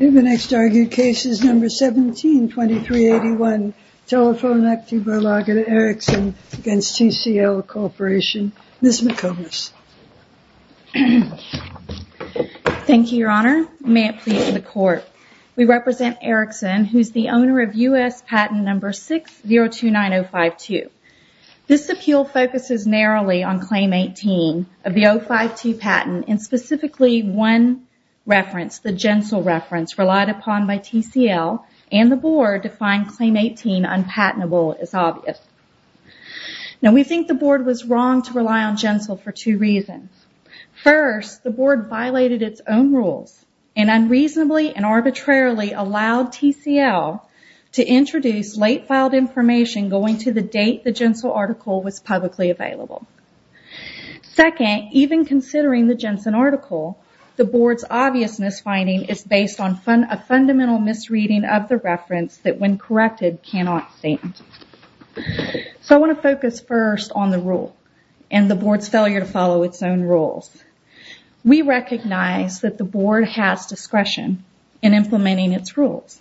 The next argued case is number 172381, Telefonaktiebolaget Erickson against TCL Corporation. Ms. McComas. Thank you, Your Honor. May it please the Court. We represent Erickson, who is the owner of U.S. patent number 6029052. This appeal focuses narrowly on Claim 18 of the 052 patent and specifically one reference, the Jensel reference, relied upon by TCL and the Board to find Claim 18 unpatentable, as obvious. Now we think the Board was wrong to rely on Jensel for two reasons. First, the Board violated its own rules and unreasonably and arbitrarily allowed TCL to introduce late filed information going to the date the Jensel article was publicly available. Second, even considering the Jensen article, the Board's obvious misfinding is based on a fundamental misreading of the reference that, when corrected, cannot stand. So I want to focus first on the rule and the Board's failure to follow its own rules. We recognize that the Board has discretion in implementing its rules,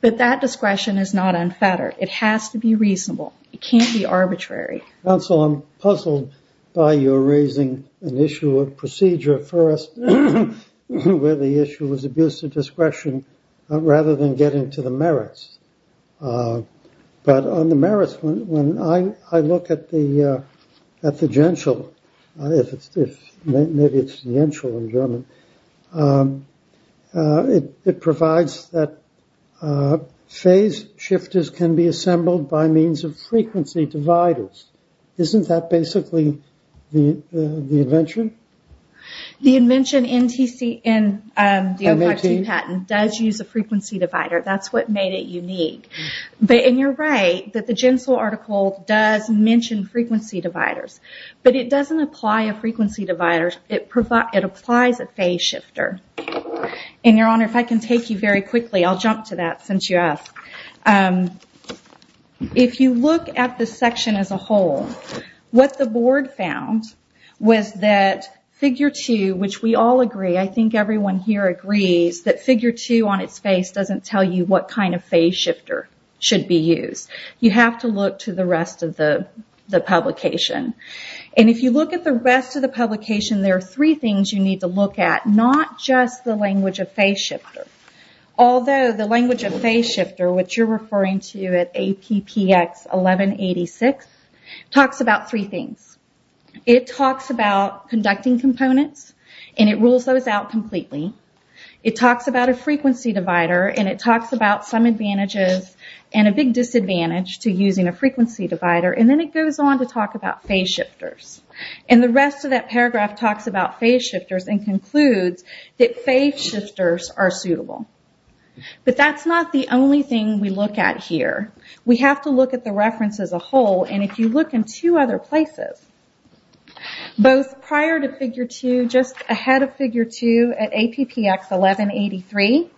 but that discretion is not unfettered. It has to be reasonable. It can't be arbitrary. Counsel, I'm puzzled by your raising an issue of procedure first, where the issue was abuse of discretion rather than getting to the merits. But on the merits, when I look at the Jensel, it provides that phase shifters can be assembled by means of frequency dividers. Isn't that basically the invention? The invention in the M18 patent does use a frequency divider. That's what made it unique. You're right that the Jensel article does mention frequency dividers, but it doesn't apply a frequency divider. It applies a phase shifter. Your Honor, if I can take you very quickly, I'll jump to that since you asked. If you look at the section as a whole, what the Board found was that figure 2, which we all agree, I think everyone here agrees, that figure 2 on its face doesn't tell you what kind of phase shifter should be used. You have to look to the rest of the publication. If you look at the rest of the publication, there are three things you need to look at, not just the language of phase shifter. Although the language of phase shifter, which you're referring to at APPX 1186, talks about three things. It talks about conducting components, and it rules those out completely. It talks about a frequency divider, and it talks about some advantages and a big disadvantage to using a frequency divider. Then it goes on to talk about phase shifters. The rest of that paragraph talks about phase shifters and concludes that phase shifters are suitable. That's not the only thing we look at here. We have to look at the reference as a whole. If you look in two other places, both prior to figure 2, just ahead of figure 2 at APPX 1183,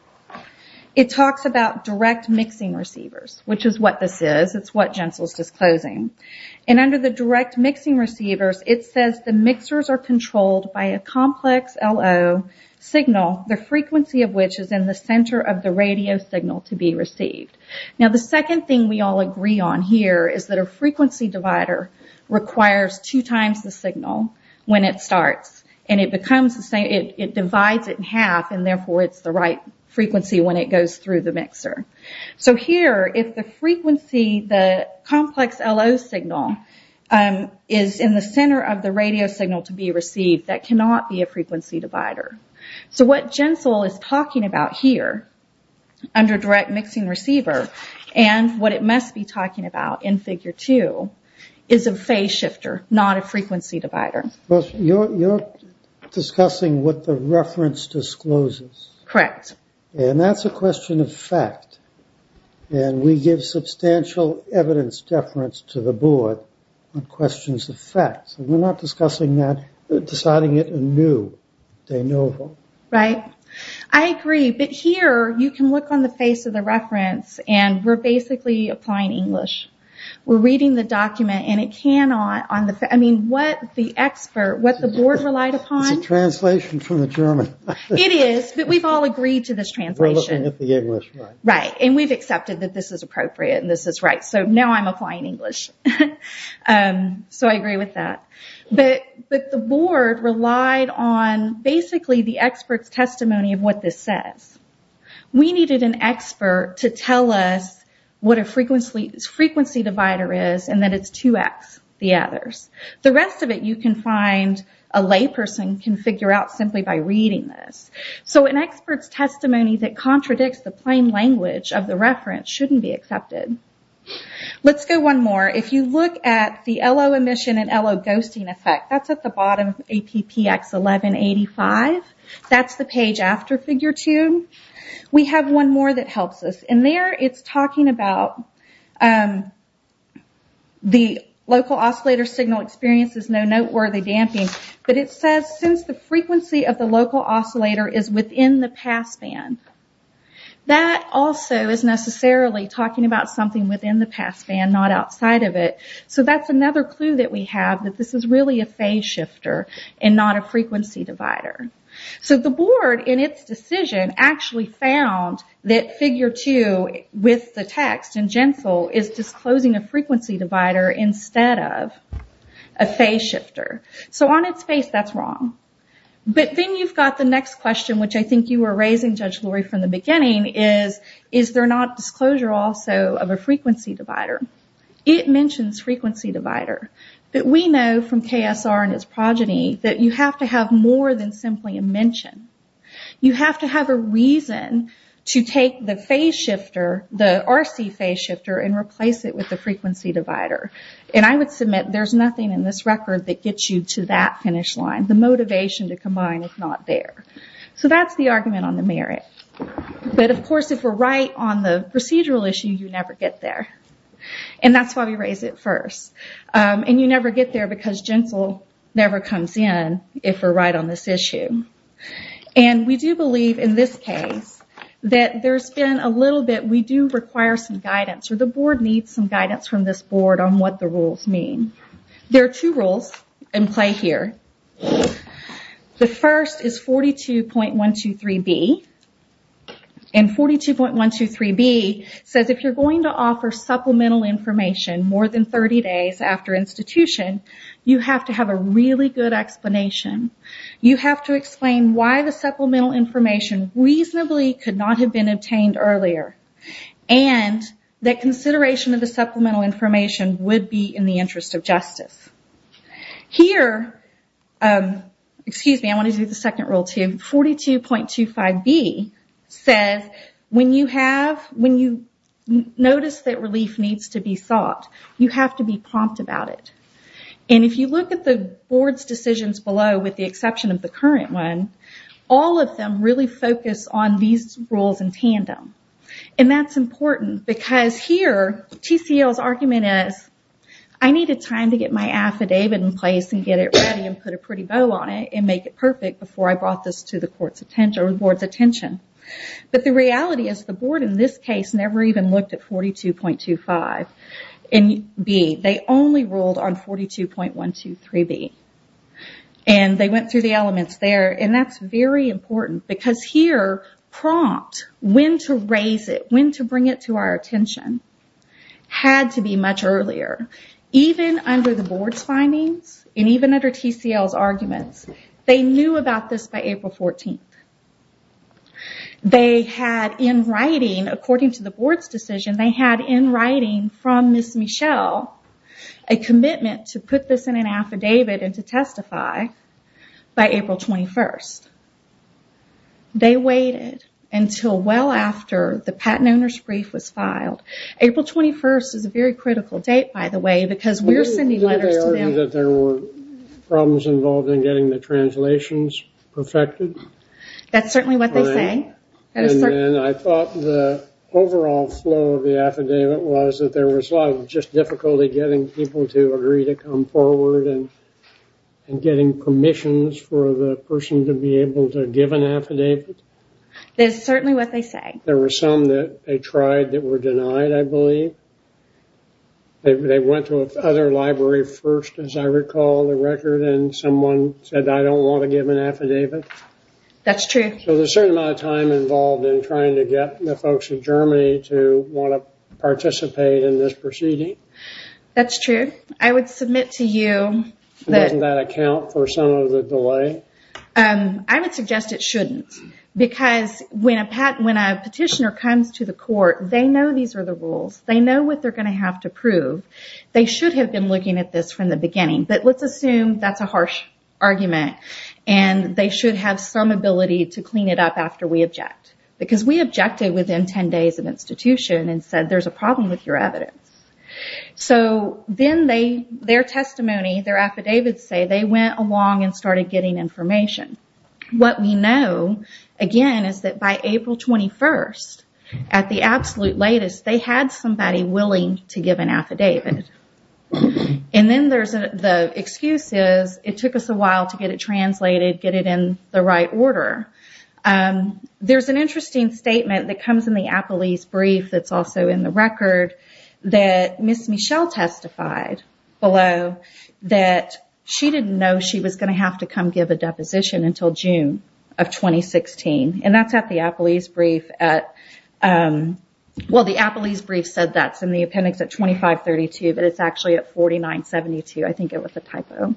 it talks about direct mixing receivers, which is what this is. It's what Jensel's disclosing. Under the direct mixing receivers, it says the mixers are controlled by a complex LO signal, the frequency of which is in the center of the radio signal to be received. The second thing we all agree on here is that your frequency divider requires two times the signal when it starts. It divides it in half, and therefore it's the right frequency when it goes through the mixer. Here, if the frequency, the complex LO signal, is in the center of the radio signal to be received, that cannot be a frequency divider. What Jensel is talking about here, under direct mixing receiver, and what it must be talking about in figure 2, is a phase shifter, not a frequency divider. You're discussing what the reference discloses? Correct. That's a question of fact. We give substantial evidence deference to the board on questions of fact. We're not discussing that, deciding it anew. I agree. Here, you can look on the face of the reference, and we're basically applying English. We're reading the document. What the board relied upon... It's a translation from the German. It is, but we've all agreed to this translation. We're looking at the English. We've accepted that this is appropriate, and this is right. Now I'm applying English. I believe the board relied on, basically, the expert's testimony of what this says. We needed an expert to tell us what a frequency divider is, and that it's 2x the others. The rest of it, you can find a layperson can figure out simply by reading this. An expert's testimony that contradicts the plain language of the reference shouldn't be accepted. Let's go one more. If you look at the LO emission and LO ghosting effect, that's at the bottom of PPX 1185. That's the page after Figure 2. We have one more that helps us. There, it's talking about the local oscillator signal experience is no noteworthy damping, but it says, since the frequency of the local oscillator is within the passband, that also is necessarily talking about something within the passband, not outside of it. That's another clue that we have, that this is really a phase shifter and not a frequency divider. The board, in its decision, actually found that Figure 2, with the text in GENFL, is disclosing a frequency divider instead of a phase shifter. On its face, that's wrong. Then you've got the next question, which I think you were raising, Judge Lori, from the board. It mentions frequency divider, but we know from KSR and its progeny that you have to have more than simply a mention. You have to have a reason to take the phase shifter, the RC phase shifter, and replace it with the frequency divider. I would submit there's nothing in this record that gets you to that finish line. The motivation to combine is not there. That's the argument on the merit. Of course, if we're right on the procedural issue, you don't get there. That's why we raise it first. You never get there because GENFL never comes in if we're right on this issue. We do believe, in this case, that there's been a little bit... We do require some guidance. The board needs some guidance from this board on what the rules mean. There are two rules in play here. The first is 42.123B. 42.123B says, if you're going to offer supplemental information more than 30 days after institution, you have to have a really good explanation. You have to explain why the supplemental information reasonably could not have been obtained earlier, and that consideration of the supplemental information would be in the interest of justice. Here... Excuse me, I want to do the second rule too. 42.25B says, when you notice that relief needs to be sought, you have to be prompt about it. If you look at the board's decisions below, with the exception of the current one, all of them really focus on these rules in tandem. That's important because here, TCL's argument is, I needed time to get my affidavit in place and get it ready and put a pretty bow on it and make it perfect before I brought this to the board's attention. The reality is, the board in this case never even looked at 42.25B. They only ruled on 42.123B. They went through the elements there, and that's very important because here, prompt, when to raise it, when to bring it to our attention, had to be much earlier. Even under the board's findings, and even under TCL's arguments, they knew about this by April 14th. They had in writing, according to the board's decision, they had in writing from Ms. Michelle a commitment to put this in an affidavit and to testify by April 21st. They waited until well after the patent owner's brief was filed. April 21st is a very critical date, by the way, because we're sending letters to them... Didn't they argue that there were problems involved in getting the translations perfected? That's certainly what they say. And then I thought the overall flow of the affidavit was that there was a lot of just difficulty getting people to agree to come forward and getting permissions for the person to be able to give an affidavit. That's certainly what they say. There were some that they tried that were denied, I believe. They went to another library first, as I recall, the record, and someone said, I don't want to give an affidavit. That's true. So there's a certain amount of time involved in trying to get the folks in Germany to want to participate in this proceeding. That's true. I would submit to you that... Doesn't that account for some of the delay? I would suggest it shouldn't, because when a petitioner comes to the court, they know these are the rules. They know what they're going to have to prove. They should have been looking at this from the beginning. But let's assume that's a harsh argument, and they should have some ability to clean it up after we object. Because we objected within 10 days of institution and said, there's a problem with your evidence. So then their testimony, their affidavits say they went along and started getting information. What we know, again, is that by April 21st, at the absolute latest, they had somebody willing to give an affidavit. And then there's the excuses. It took us a while to get it translated, get it in the right order. There's an interesting statement that comes in the Appelese brief that's also in the record that Ms. Michelle testified below that she didn't know she was going to have to come give a deposition until June of 2016. And that's at the Appelese brief at... Well, the Appelese brief said that's in the appendix at 2532, but it's actually at 4972. I think it was a typo.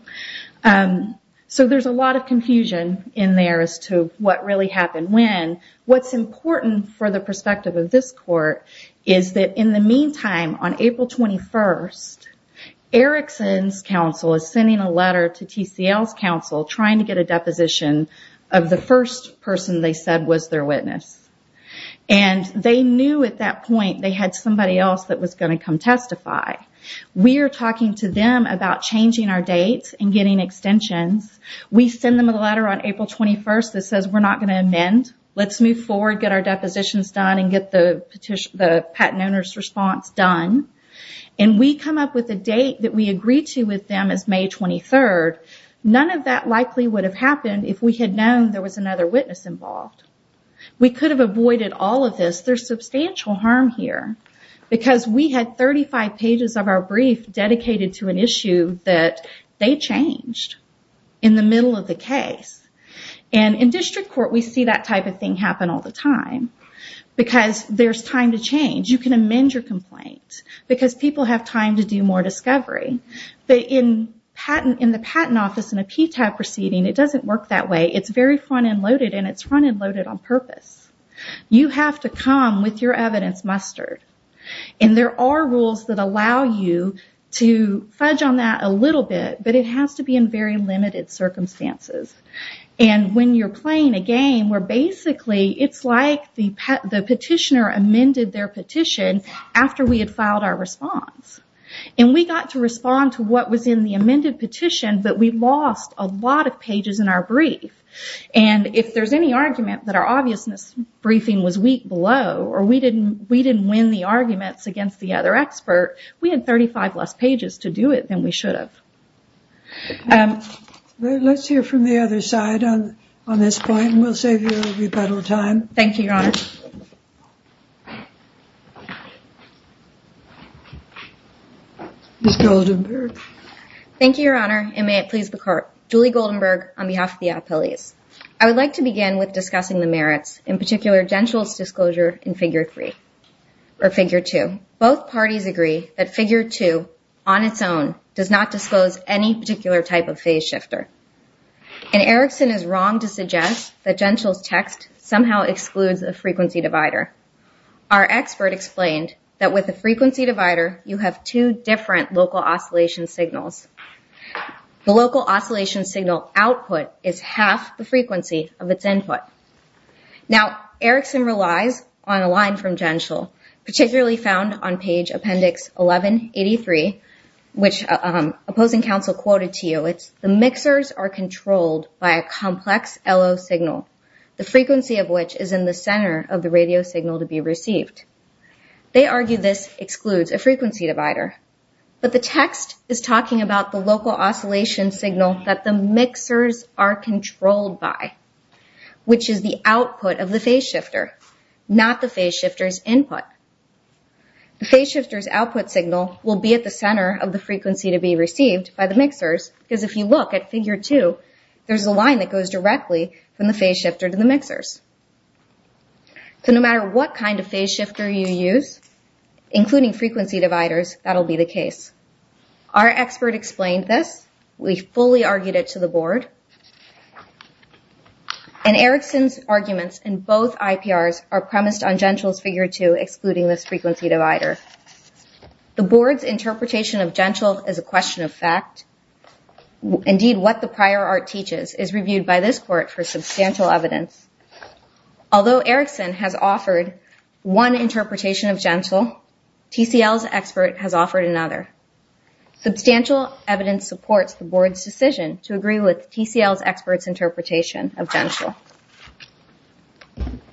So there's a lot of confusion in there as to what really happened when. What's important for the perspective of this court is that in the meantime, on April 21st, Erickson's counsel is sending a letter to TCL's counsel trying to get a deposition of the first person they said was their witness. And they knew at that point they had somebody else that was going to come testify. We're talking to them about changing our dates and getting extensions. We send them a letter on April 21st that says, we're not going to amend. Let's move forward, get our depositions done and get the patent owner's response done. And we come up with a date that we agreed to with them as May 23rd. None of that likely would have happened if we had known there was another witness involved. We could have avoided all of this. There's substantial harm here because we had 35 pages of our brief dedicated to an issue that they changed in the middle of the case. And in district court, we see that type of thing happen all the time because there's time to change. You can amend your complaint because people have time to do more discovery. But in the patent office in a PTAG proceeding, it doesn't work that way. It's very front-end loaded and it's front-end loaded on purpose. You have to come with your evidence mustered. And there are rules that allow you to fudge on that a little bit, but it has to be in very limited circumstances. And when you're playing a game where basically it's like the petitioner amended their petition after we had filed our response. And we got to respond to what was in the amended petition, but we lost a lot of pages in our brief. And if there's any argument that our obviousness briefing was weak below or we didn't win the arguments against the other expert, we had 35 less pages to do it than we should have. Let's hear from the other side on this point, and we'll save you a rebuttal time. Ms. Goldenberg. Thank you, Your Honor, and may it please the court. Julie Goldenberg on behalf of the appellees. I would like to begin with discussing the merits, in particular Gentile's disclosure in figure three, or figure two. Both parties agree that figure two on its own does not disclose any particular type of phase shifter. And Erickson is wrong to suggest that Gentile's text somehow excludes a frequency divider. Our expert explained that with a frequency divider, you have two different local oscillation signals. The local oscillation signal output is half the frequency of its input. Now, Erickson relies on a line from Gentile, particularly found on page appendix 1183, which opposing counsel quoted to you. It's, the mixers are controlled by a complex LO signal, the frequency of which is in the center of the radio signal to be received. They argue this excludes a frequency divider. But the text is talking about the local oscillation signal that the mixers are controlled by, which is the output of the phase shifter, not the phase shifter's input. The phase shifter's output signal will be at the center of the frequency to be received by the mixers, because if you look at figure two, there's a line that goes directly from the phase shifter to the mixers. So no matter what kind of phase shifter you use, including frequency dividers, that'll be the case. Our expert explained this. We fully argued it to the board. And Erickson's arguments in both IPRs are premised on Gentile's figure two, excluding this frequency divider. The board's interpretation of Gentile as a question of fact, indeed what the prior art teaches, is reviewed by this court for substantial evidence. Although Erickson has offered one interpretation of Gentile, TCL's expert has offered another. Substantial evidence supports the board's decision to agree with TCL's expert's interpretation of Gentile.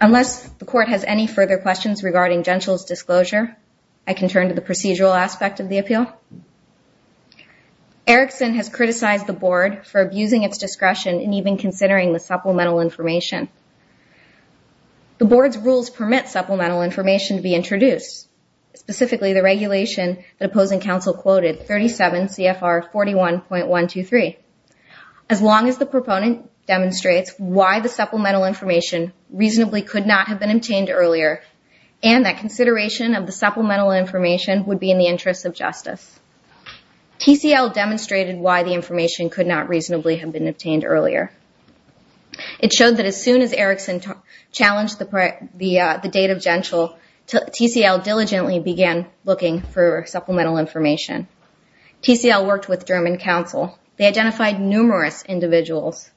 Unless the court has any further questions regarding Gentile's disclosure, I can turn to the procedural aspect of the appeal. Erickson has criticized the board for abusing its discretion and even considering the supplemental information. The board's rules permit supplemental information to be introduced, specifically the regulation that opposing counsel quoted, 37 CFR 41.123. As long as the proponent demonstrates why the supplemental information reasonably could not have been obtained earlier, and that consideration of the supplemental information would be in the interest of justice, TCL demonstrated why the information could not reasonably have been obtained earlier. It showed that as soon as Erickson challenged the date of Gentile, TCL diligently began looking for supplemental information. TCL worked with German counsel. They identified numerous individuals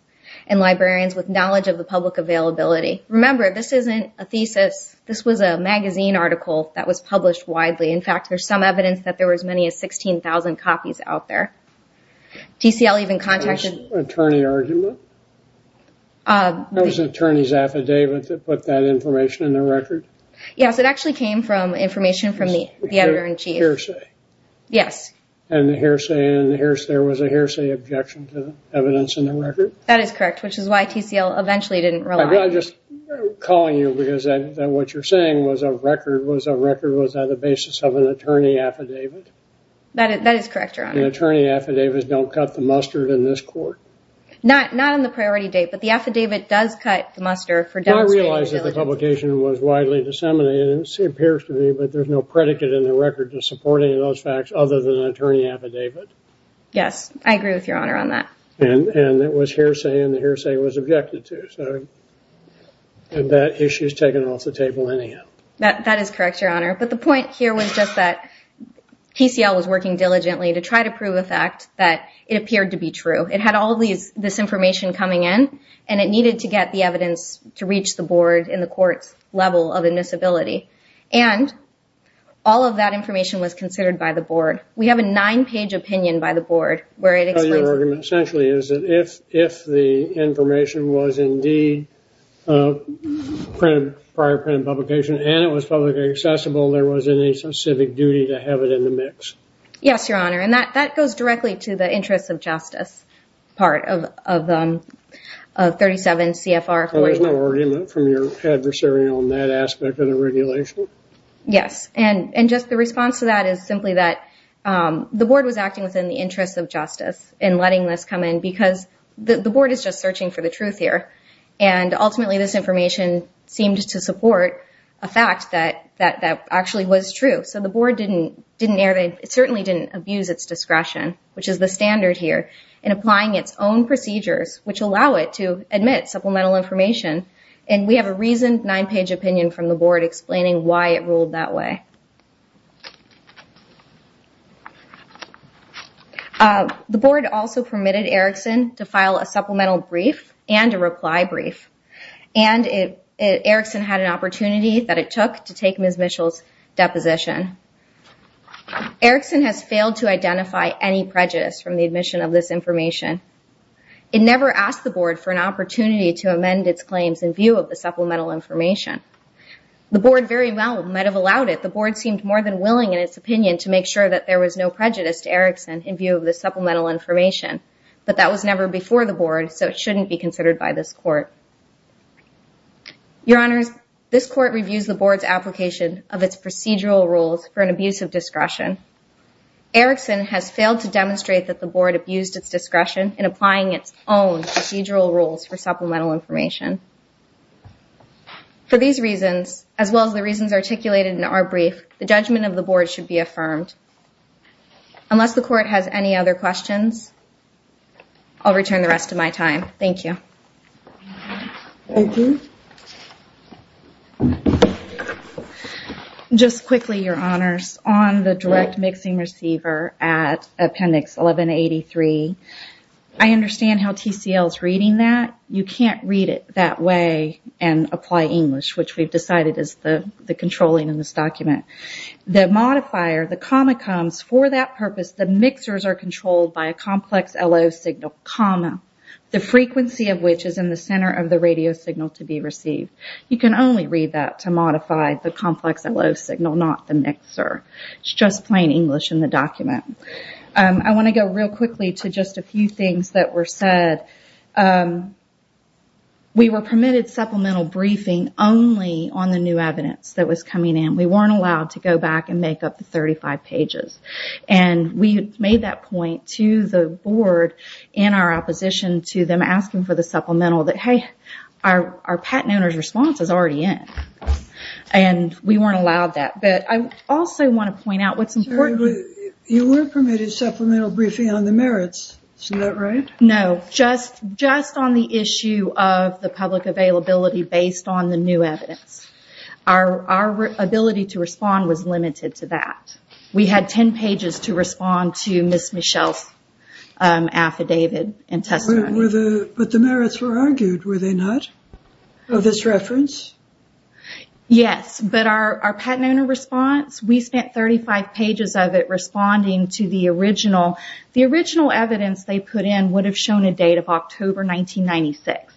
and librarians with knowledge of the public availability. Remember, this isn't a thesis. This was a magazine article that was published widely. In fact, there's some evidence that there were as many as 16,000 copies out there. TCL even contacted- Was it an attorney argument? It was an attorney's affidavit that put that information in the record? Yes, it actually came from information from the editor-in-chief. The hearsay? Yes. And the hearsay, and there was a hearsay objection to the evidence in the record? That is correct, which is why TCL eventually didn't rely on it. I'm just calling you because what you're saying was a record was on the basis of an attorney affidavit. That is correct, Your Honor. Attorney affidavits don't cut the mustard in this court. Not on the priority date, but the affidavit does cut the mustard for demonstrating- I realize that the publication was widely disseminated, it appears to me, but there's no predicate in the record to supporting those facts other than an attorney affidavit. Yes, I agree with Your Honor on that. And it was hearsay, and the hearsay was objected to. And that issue is taken off the table anyhow. That is correct, Your Honor. But the point here was just that TCL was working diligently to try to prove a fact that it appeared to be true. It had all of this information coming in, and it needed to get the evidence to reach the board in the court's level of admissibility. And all of that information was considered by the board. We have a nine-page opinion by the board where it explains- So your argument essentially is that if the information was indeed prior printed publication and it was publicly accessible, there was any specific duty to have it in the mix. Yes, Your Honor. And that goes directly to the interests of justice part of 37 CFR- So there's no argument from your adversary on that aspect of the regulation? Yes. And just the response to that is simply that the board was acting within the interests of justice in letting this come in because the board is just searching for the truth here. And ultimately, this information seemed to support a fact that actually was true. So the board certainly didn't abuse its discretion, which is the standard here, in applying its own procedures, which allow it to admit supplemental information. And we have a reasoned nine-page opinion from the board explaining why it ruled that way. The board also permitted Erickson to file a supplemental brief and a reply brief. And Erickson had an opportunity that it took to take Ms. Mitchell's deposition. Erickson has failed to identify any prejudice from the admission of this information. It never asked the board for an opportunity to amend its claims in view of the supplemental information. The board very well might have allowed it. The board seemed more than willing, in its opinion, to make sure that there was no prejudice to Erickson in view of the supplemental information. But that was never before the board, so it shouldn't be considered by this court. Your Honors, this court reviews the board's application of its procedural rules for an abuse of discretion. Erickson has failed to demonstrate that the board abused its discretion in applying its own procedural rules for supplemental information. For these reasons, as well as the reasons articulated in our brief, the judgment of Unless the court has any other questions, I'll return the rest of my time. Thank you. Thank you. Just quickly, Your Honors, on the direct mixing receiver at Appendix 1183, I understand how TCL is reading that. You can't read it that way and apply English, which we've decided is the controlling in this document. The modifier, the comma comes, for that purpose, the mixers are controlled by a complex LO signal, comma, the frequency of which is in the center of the radio signal to be received. You can only read that to modify the complex LO signal, not the mixer. It's just plain English in the document. I want to go real quickly to just a few things that were said. We were permitted supplemental briefing only on the new evidence that was coming in. We weren't allowed to go back and make up the 35 pages. We made that point to the board in our opposition to them asking for the supplemental that, hey, our patent owner's response is already in. We weren't allowed that. I also want to point out what's important. You were permitted supplemental briefing on the merits. Isn't that right? No. Just on the issue of the public availability based on the new evidence. Our ability to respond was limited to that. We had 10 pages to respond to Ms. Michelle's affidavit and testimony. But the merits were argued, were they not? Of this reference? Yes, but our patent owner response, we spent 35 pages of it responding to the original. The original evidence they put in would have shown a date of October 1996.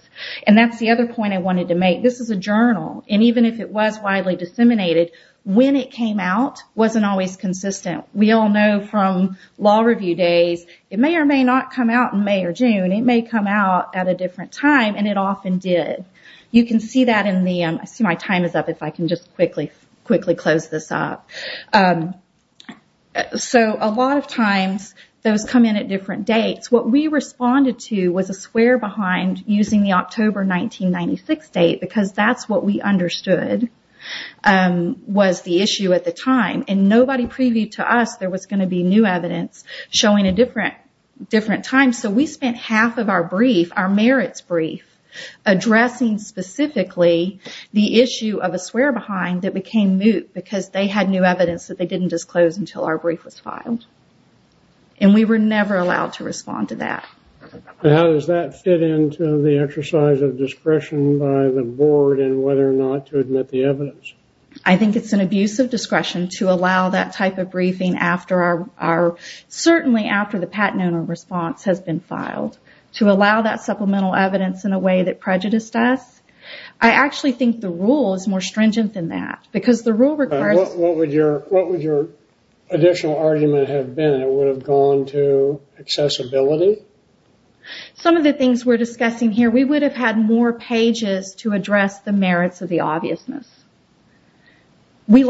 That's the other point I wanted to make. This is a journal. Even if it was widely disseminated, when it came out wasn't always consistent. We all know from law review days, it may or may not come out in May or June. It may come out at a different time, and it often did. You can see that in the... I see my time is up. If I can just quickly close this up. A lot of times, those come in at different dates. What we responded to was a swear behind using the October 1996 date because that's what we understood was the issue at the time. Nobody previewed to us there was going to be new evidence showing a different time. We spent half of our merits brief addressing specifically the issue of a swear behind that became moot because they had new evidence that they didn't disclose until our brief was filed. We were never allowed to respond to that. How does that fit into the exercise of discretion by the board and whether or not to admit the evidence? I think it's an abuse of discretion to allow that type of briefing certainly after the patent owner response has been filed. To allow that supplemental evidence in a way that prejudiced us. I actually think the rule is more stringent than that. Because the rule requires... What would your additional argument have been? It would have gone to accessibility? Some of the things we're discussing here, we would have had more pages to address the merits of the obviousness. We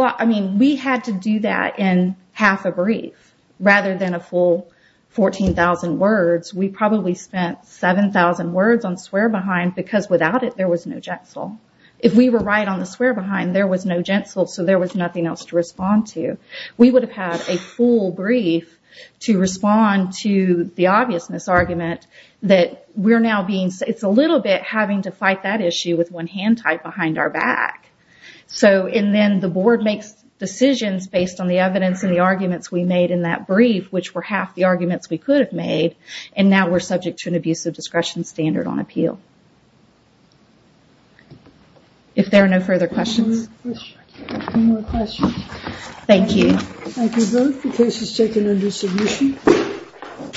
had to do that in half a brief rather than a full 14,000 words. We probably spent 7,000 words on swear behind because without it, there was no genital. If we were right on the swear behind, there was no genital, so there was nothing else to respond to. We would have had a full brief to respond to the obviousness argument that we're now being... It's a little bit having to fight that issue with one hand tied behind our back. Then the board makes decisions based on the evidence and the arguments we made in that brief which were half the arguments we could have made and now we're subject to an abuse of discretion standard on appeal. If there are no further questions. No more questions. Thank you. Thank you both. The case is taken under submission.